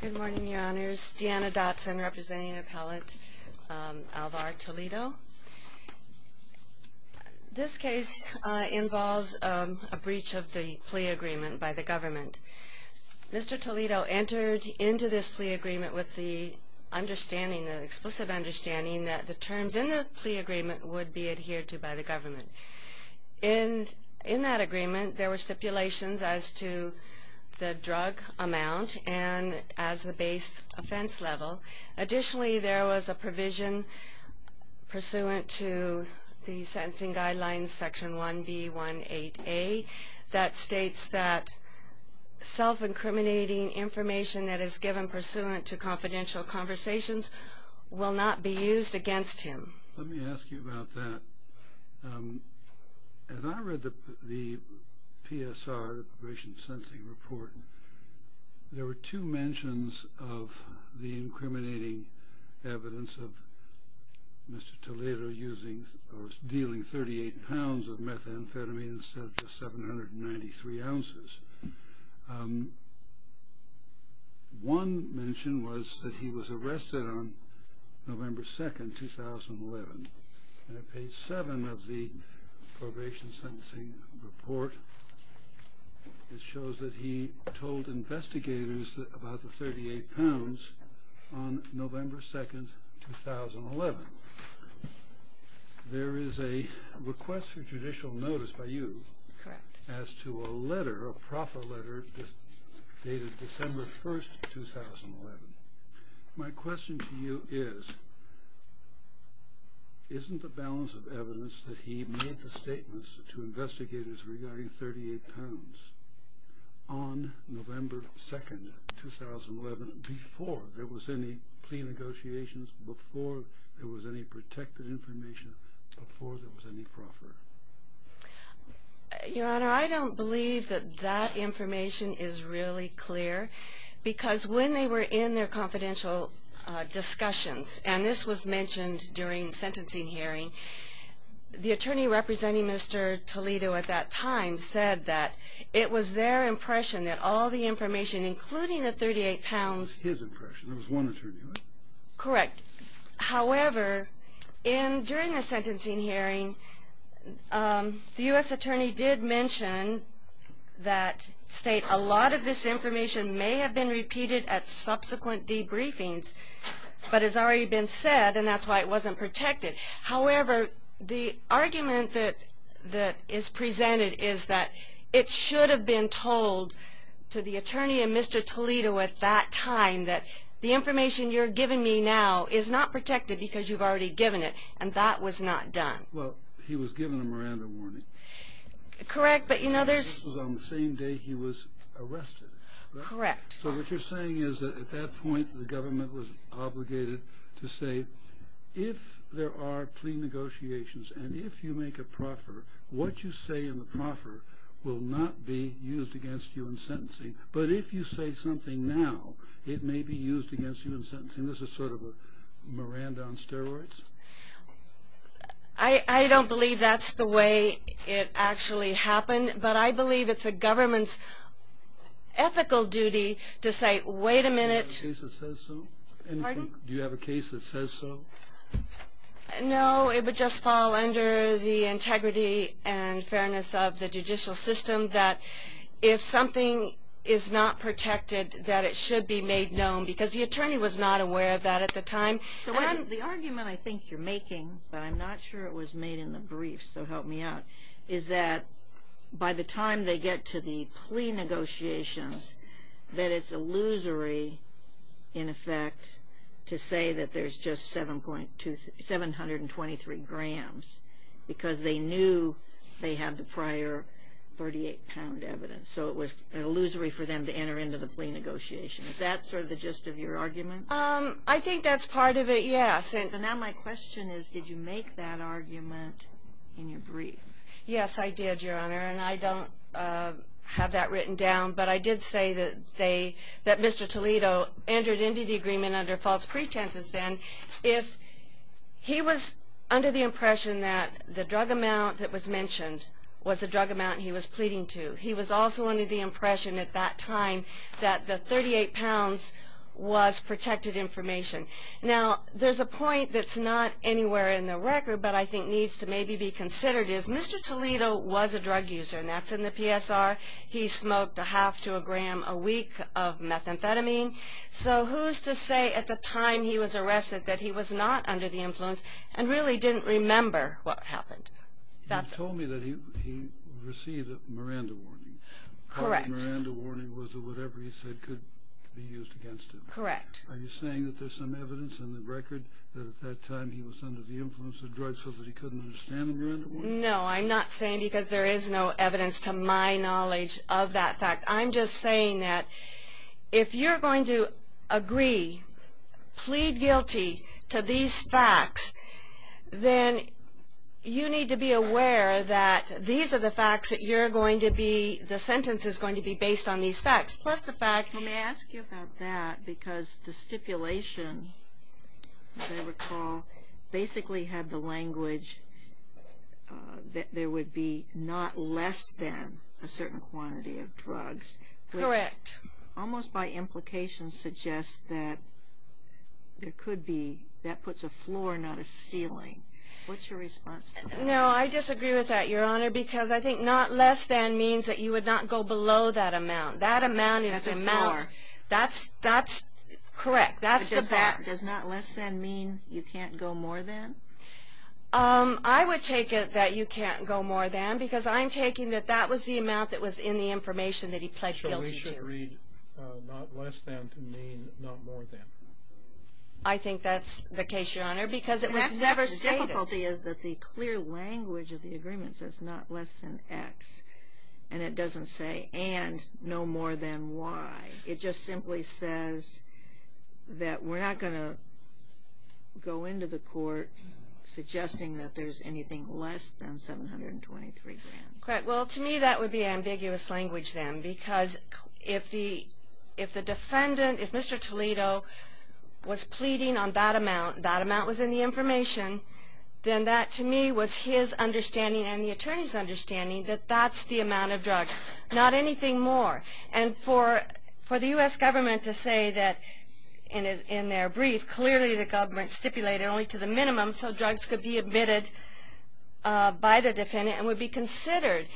Good morning, your honors. Deanna Dotson, representing appellant Alvar Toledo. This case involves a breach of the plea agreement by the government. Mr. Toledo entered into this plea agreement with the understanding, the explicit understanding, that the terms in the plea agreement would be adhered to by the government. In that agreement, there were stipulations as to the drug amount and as the base offense level. Additionally, there was a provision pursuant to the sentencing guidelines section 1B18A that states that self-incriminating information that is given pursuant to confidential conversations will not be used against him. Let me ask you about that. As I read the PSR, the Appropriation Sensing Report, there were two mentions of the incriminating evidence of Mr. Toledo using or dealing 38 pounds of methamphetamine instead of just 793 ounces. One mention was that he was arrested on November 2nd, 2011. On page 7 of the Appropriation Sentencing Report, it shows that he told investigators about the 38 pounds on November 2nd, 2011. There is a request for judicial notice by you as to a letter, a proffered letter, dated December 1st, 2011. My question to you is, isn't the balance of evidence that he made the statements to investigators regarding 38 pounds on November 2nd, 2011, before there was any plea negotiations, before there was any protected information, before there was any proffer? Your Honor, I don't believe that that information is really clear, because when they were in their confidential discussions, and this was mentioned during sentencing hearing, the attorney representing Mr. Toledo at that time said that it was their impression that all the information, including the 38 pounds... It was his impression. There was one attorney, right? Correct. However, during the sentencing hearing, the U.S. attorney did mention that state a lot of this information may have been repeated at subsequent debriefings, but has already been said, and that's why it wasn't protected. However, the argument that is presented is that it should have been told to the attorney and Mr. Toledo at that time that the information you're giving me now is not protected because you've already given it, and that was not done. Well, he was given a Miranda warning. Correct, but you know there's... This was on the same day he was arrested. Correct. So what you're saying is that at that point, the government was obligated to say, if there are plea negotiations, and if you make a proffer, what you say in the proffer will not be used against you in sentencing, but if you say something now, it may be used against you in sentencing. This is sort of a Miranda on steroids? I don't believe that's the way it actually happened, but I believe it's a government's ethical duty to say, wait a minute... Do you have a case that says so? Pardon? Do you have a case that says so? No, it would just fall under the integrity and fairness of the judicial system that if something is not protected, that it should be made known, because the attorney was not aware of that at the time. The argument I think you're making, but I'm not sure it was made in the brief, so help me out, is that by the time they get to the plea negotiations, that it's illusory, in effect, to say that there's just 723 grams, because they knew they had the prior 38-pound evidence. So it was illusory for them to enter into the plea negotiations. Is that sort of the gist of your argument? I think that's part of it, yes. So now my question is, did you make that argument in your brief? Yes, I did, Your Honor, and I don't have that written down, but I did say that Mr. Toledo entered into the agreement under false pretenses then. If he was under the impression that the drug amount that was mentioned was the drug amount he was pleading to, he was also under the impression at that time that the 38 pounds was protected information. Now, there's a point that's not anywhere in the record, but I think needs to maybe be considered, is Mr. Toledo was a drug user, and that's in the PSR. He smoked a half to a gram a week of methamphetamine. So who's to say at the time he was arrested that he was not under the influence and really didn't remember what happened? You told me that he received a Miranda warning. Correct. The Miranda warning was that whatever he said could be used against him. Correct. Are you saying that there's some evidence in the record that at that time he was under the influence of drugs so that he couldn't understand the Miranda warning? No, I'm not saying because there is no evidence to my knowledge of that fact. I'm just saying that if you're going to agree, plead guilty to these facts, then you need to be aware that these are the facts that you're going to be, the sentence is going to be based on these facts. Let me ask you about that because the stipulation, as I recall, basically had the language that there would be not less than a certain quantity of drugs. Correct. Almost by implication suggests that there could be, that puts a floor, not a ceiling. What's your response to that? No, I disagree with that, Your Honor, because I think not less than means that you would not go below that amount. That amount is the amount, that's correct, that's the fact. Does not less than mean you can't go more than? I would take it that you can't go more than because I'm taking that that was the amount that was in the information that he pled guilty to. So we should read not less than to mean not more than. I think that's the case, Your Honor, because it was never stated. The difficulty is that the clear language of the agreement says not less than X and it doesn't say and no more than Y. It just simply says that we're not going to go into the court suggesting that there's anything less than $723,000. Correct. Well, to me that would be ambiguous language then because if the defendant, if Mr. Toledo was pleading on that amount, that amount was in the information, then that to me was his understanding and the attorney's understanding that that's the amount of drugs, not anything more. And for the U.S. government to say that in their brief clearly the government stipulated only to the minimum so drugs could be admitted by the defendant and would be considered,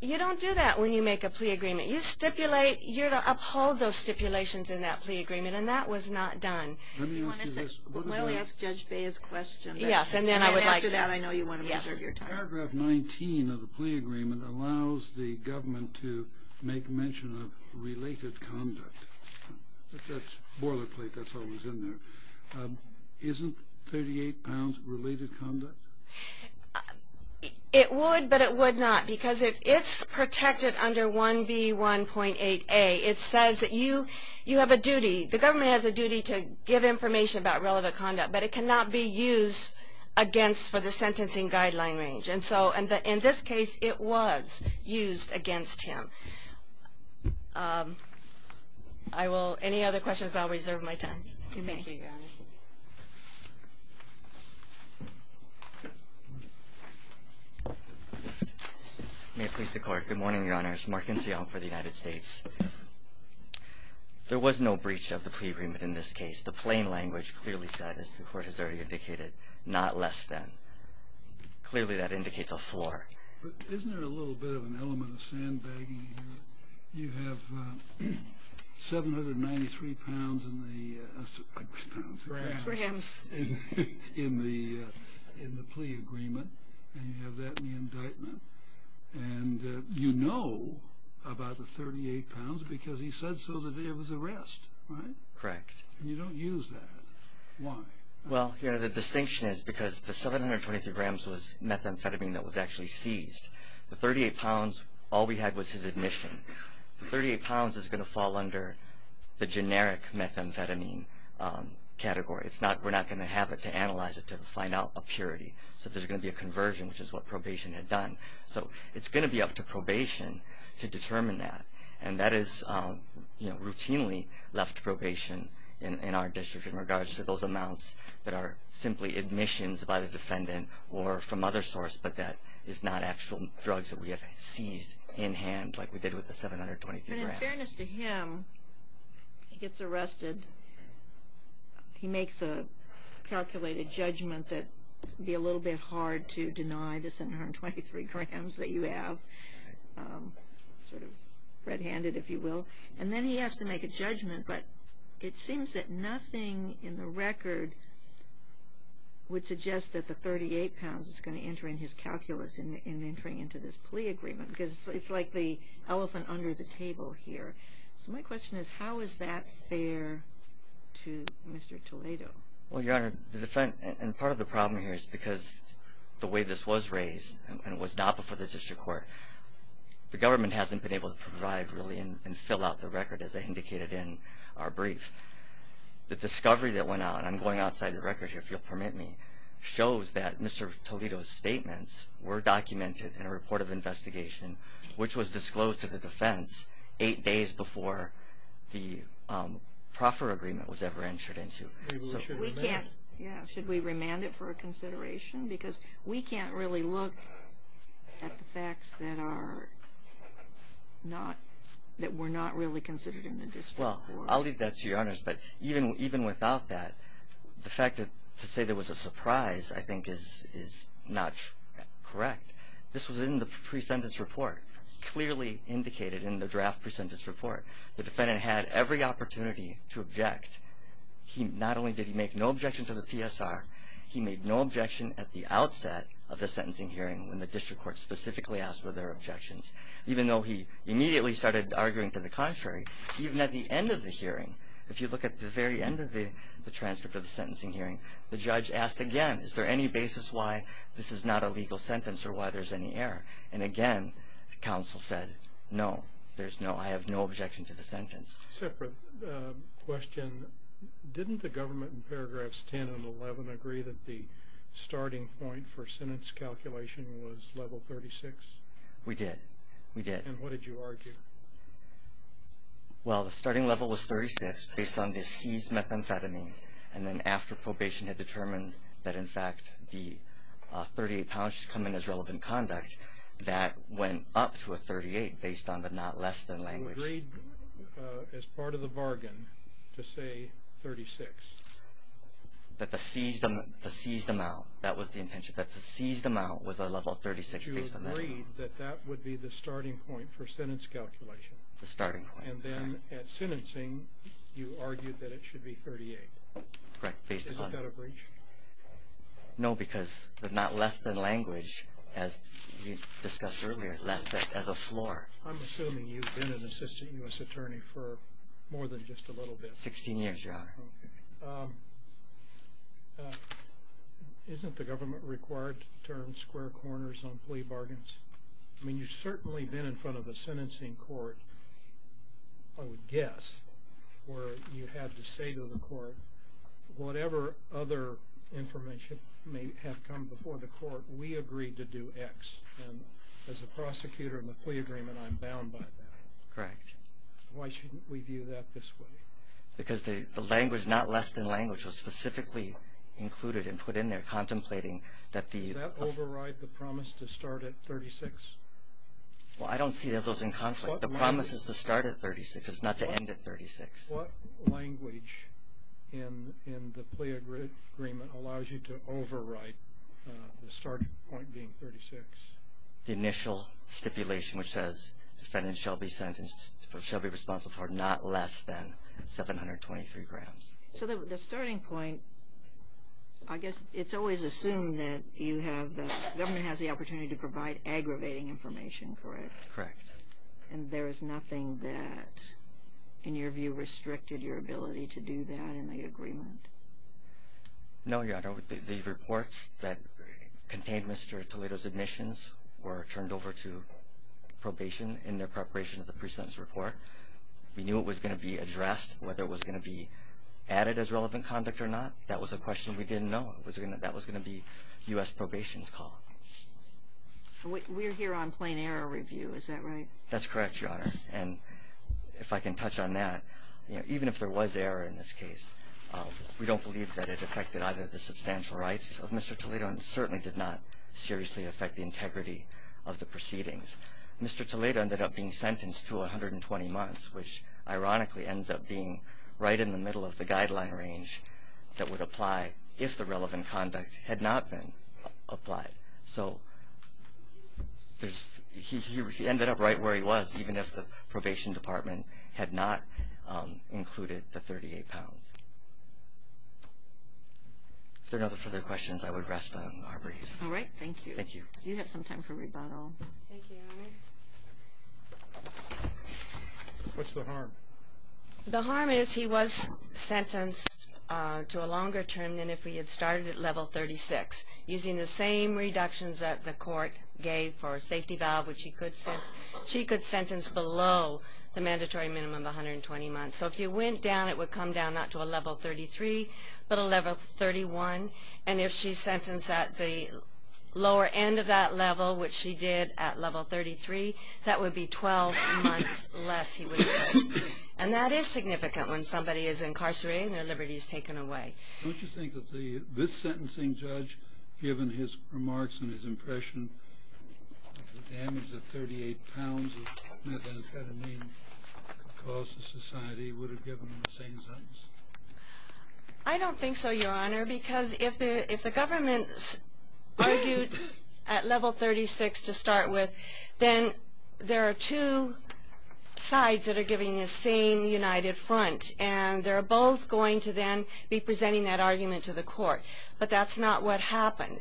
you don't do that when you make a plea agreement. You stipulate. You're to uphold those stipulations in that plea agreement, and that was not done. Let me ask you this. Why don't we ask Judge Bea's question? Yes, and then I would like to. And after that, I know you want to reserve your time. Yes. Paragraph 19 of the plea agreement allows the government to make mention of related conduct. That's boilerplate. That's all that was in there. Isn't 38 pounds related conduct? It would, but it would not because if it's protected under 1B1.8A, it says that you have a duty, the government has a duty to give information about relevant conduct, but it cannot be used against for the sentencing guideline range. And so in this case, it was used against him. I will, any other questions, I'll reserve my time. Thank you, Your Honor. May it please the Court. Good morning, Your Honors. Mark Enciano for the United States. There was no breach of the plea agreement in this case. The plain language clearly said, as the Court has already indicated, not less than. Clearly that indicates a four. Isn't there a little bit of an element of sandbagging here? You have 793 pounds in the plea agreement, and you have that in the indictment, and you know about the 38 pounds because he said so that it was a rest, right? Correct. And you don't use that. Why? Well, Your Honor, the distinction is because the 723 grams was methamphetamine that was actually seized. The 38 pounds, all we had was his admission. The 38 pounds is going to fall under the generic methamphetamine category. We're not going to have it to analyze it to find out a purity. So there's going to be a conversion, which is what probation had done. So it's going to be up to probation to determine that, and that is routinely left to probation in our district in regards to those amounts that are simply admissions by the defendant or from other source, but that is not actual drugs that we have seized in hand like we did with the 723 grams. But in fairness to him, he gets arrested. He makes a calculated judgment that it would be a little bit hard to deny the 723 grams that you have, sort of red-handed, if you will. And then he has to make a judgment, but it seems that nothing in the record would suggest that the 38 pounds is going to enter in his calculus in entering into this plea agreement because it's like the elephant under the table here. So my question is, how is that fair to Mr. Toledo? Well, Your Honor, the defendant, and part of the problem here is because the way this was raised and it was not before the district court, the government hasn't been able to provide really and fill out the record as indicated in our brief. The discovery that went out, and I'm going outside the record here, if you'll permit me, shows that Mr. Toledo's statements were documented in a report of investigation, which was disclosed to the defense eight days before the proffer agreement was ever entered into. So we can't, yeah, should we remand it for consideration? Because we can't really look at the facts that are not, that were not really considered in the district court. Well, I'll leave that to you, Your Honor. But even without that, the fact that to say there was a surprise, I think, is not correct. This was in the pre-sentence report, clearly indicated in the draft pre-sentence report. The defendant had every opportunity to object. Not only did he make no objection to the PSR, he made no objection at the outset of the sentencing hearing when the district court specifically asked whether there were objections. Even though he immediately started arguing to the contrary, even at the end of the hearing, if you look at the very end of the transcript of the sentencing hearing, the judge asked again, is there any basis why this is not a legal sentence or why there's any error? And again, counsel said, no, there's no, I have no objection to the sentence. Separate question. Didn't the government in paragraphs 10 and 11 agree that the starting point for sentence calculation was level 36? We did. We did. And what did you argue? Well, the starting level was 36 based on the seized methamphetamine. And then after probation had determined that in fact the 38 pounds should come in as relevant conduct, that went up to a 38 based on the not less than language. You agreed as part of the bargain to say 36. That the seized amount, that was the intention, that the seized amount was a level 36 based on that. You agreed that that would be the starting point for sentence calculation. The starting point. And then at sentencing, you argued that it should be 38. Correct, based upon. Is that a breach? No, because the not less than language, as we discussed earlier, left as a floor. I'm assuming you've been an assistant U.S. attorney for more than just a little bit. 16 years, Your Honor. Okay. Isn't the government required to turn square corners on plea bargains? I mean, you've certainly been in front of a sentencing court, I would guess, where you had to say to the court, whatever other information may have come before the court, we agreed to do X. And as a prosecutor in the plea agreement, I'm bound by that. Correct. Why shouldn't we view that this way? Because the language, not less than language, was specifically included and put in there contemplating that the... Well, I don't see those in conflict. The promise is to start at 36. It's not to end at 36. What language in the plea agreement allows you to overwrite the starting point being 36? The initial stipulation, which says the defendant shall be sentenced, shall be responsible for not less than 723 grams. So the starting point, I guess it's always assumed that you have, the government has the opportunity to provide aggravating information, correct? Correct. And there is nothing that, in your view, restricted your ability to do that in the agreement? No, Your Honor. The reports that contained Mr. Toledo's admissions were turned over to probation in their preparation of the pre-sentence report. We knew it was going to be addressed. Whether it was going to be added as relevant conduct or not, that was a question we didn't know. That was going to be U.S. probation's call. We're here on plain error review, is that right? That's correct, Your Honor. And if I can touch on that, even if there was error in this case, we don't believe that it affected either the substantial rights of Mr. Toledo and certainly did not seriously affect the integrity of the proceedings. Mr. Toledo ended up being sentenced to 120 months, which ironically ends up being right in the middle of the guideline range that would apply if the relevant conduct had not been applied. So he ended up right where he was, even if the probation department had not included the 38 pounds. If there are no further questions, I would rest on our brief. All right. Thank you. Thank you. You have some time for rebuttal. Thank you, Your Honor. What's the harm? The harm is he was sentenced to a longer term than if we had started at level 36, using the same reductions that the court gave for safety valve, which she could sentence below the mandatory minimum of 120 months. So if you went down, it would come down not to a level 33, but a level 31. And if she's sentenced at the lower end of that level, which she did at level 33, that would be 12 months less, he would say. And that is significant when somebody is incarcerated and their liberty is taken away. Don't you think that this sentencing judge, given his remarks and his impression, the damage that 38 pounds of methamphetamine could cause to society, would have given him the same sentence? I don't think so, Your Honor, because if the government argued at level 36 to start with, then there are two sides that are giving the same united front, and they're both going to then be presenting that argument to the court. But that's not what happened.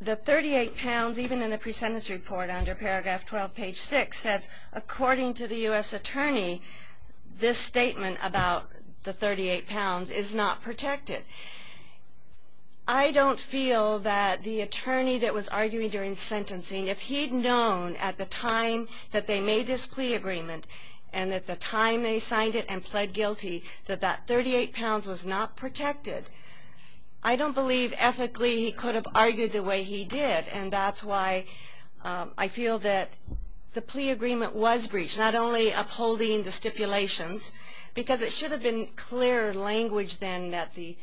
The 38 pounds, even in the presentence report under paragraph 12, page 6, according to the U.S. attorney, this statement about the 38 pounds is not protected. I don't feel that the attorney that was arguing during sentencing, if he'd known at the time that they made this plea agreement and at the time they signed it and pled guilty that that 38 pounds was not protected, I don't believe ethically he could have argued the way he did. And that's why I feel that the plea agreement was breached, not only upholding the stipulations, because it should have been clearer language then that the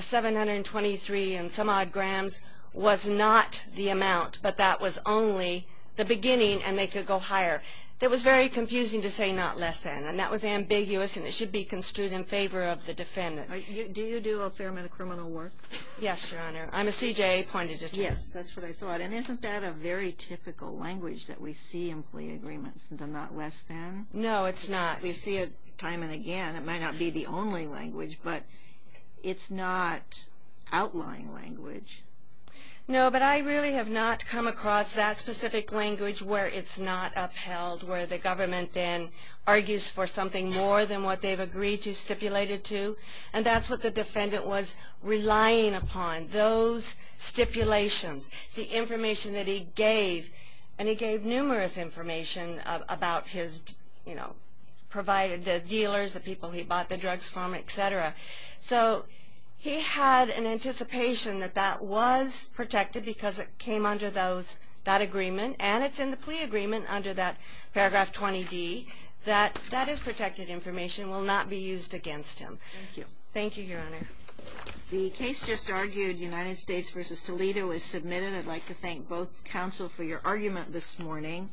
723 and some odd grams was not the amount, but that was only the beginning, and they could go higher. It was very confusing to say not less than, and that was ambiguous, and it should be construed in favor of the defendant. Do you do a fair amount of criminal work? Yes, Your Honor. I'm a CJA-appointed attorney. Yes, that's what I thought. And isn't that a very typical language that we see in plea agreements, the not less than? No, it's not. We see it time and again. It might not be the only language, but it's not outlying language. No, but I really have not come across that specific language where it's not upheld, where the government then argues for something more than what they've agreed to stipulate it to, and that's what the defendant was relying upon. Those stipulations, the information that he gave, and he gave numerous information about his, you know, provided to dealers, the people he bought the drugs from, et cetera. So he had an anticipation that that was protected because it came under that agreement, and it's in the plea agreement under that paragraph 20D that that is protected information, will not be used against him. Thank you. Thank you, Your Honor. The case just argued, United States v. Toledo, is submitted. I'd like to thank both counsel for your argument this morning.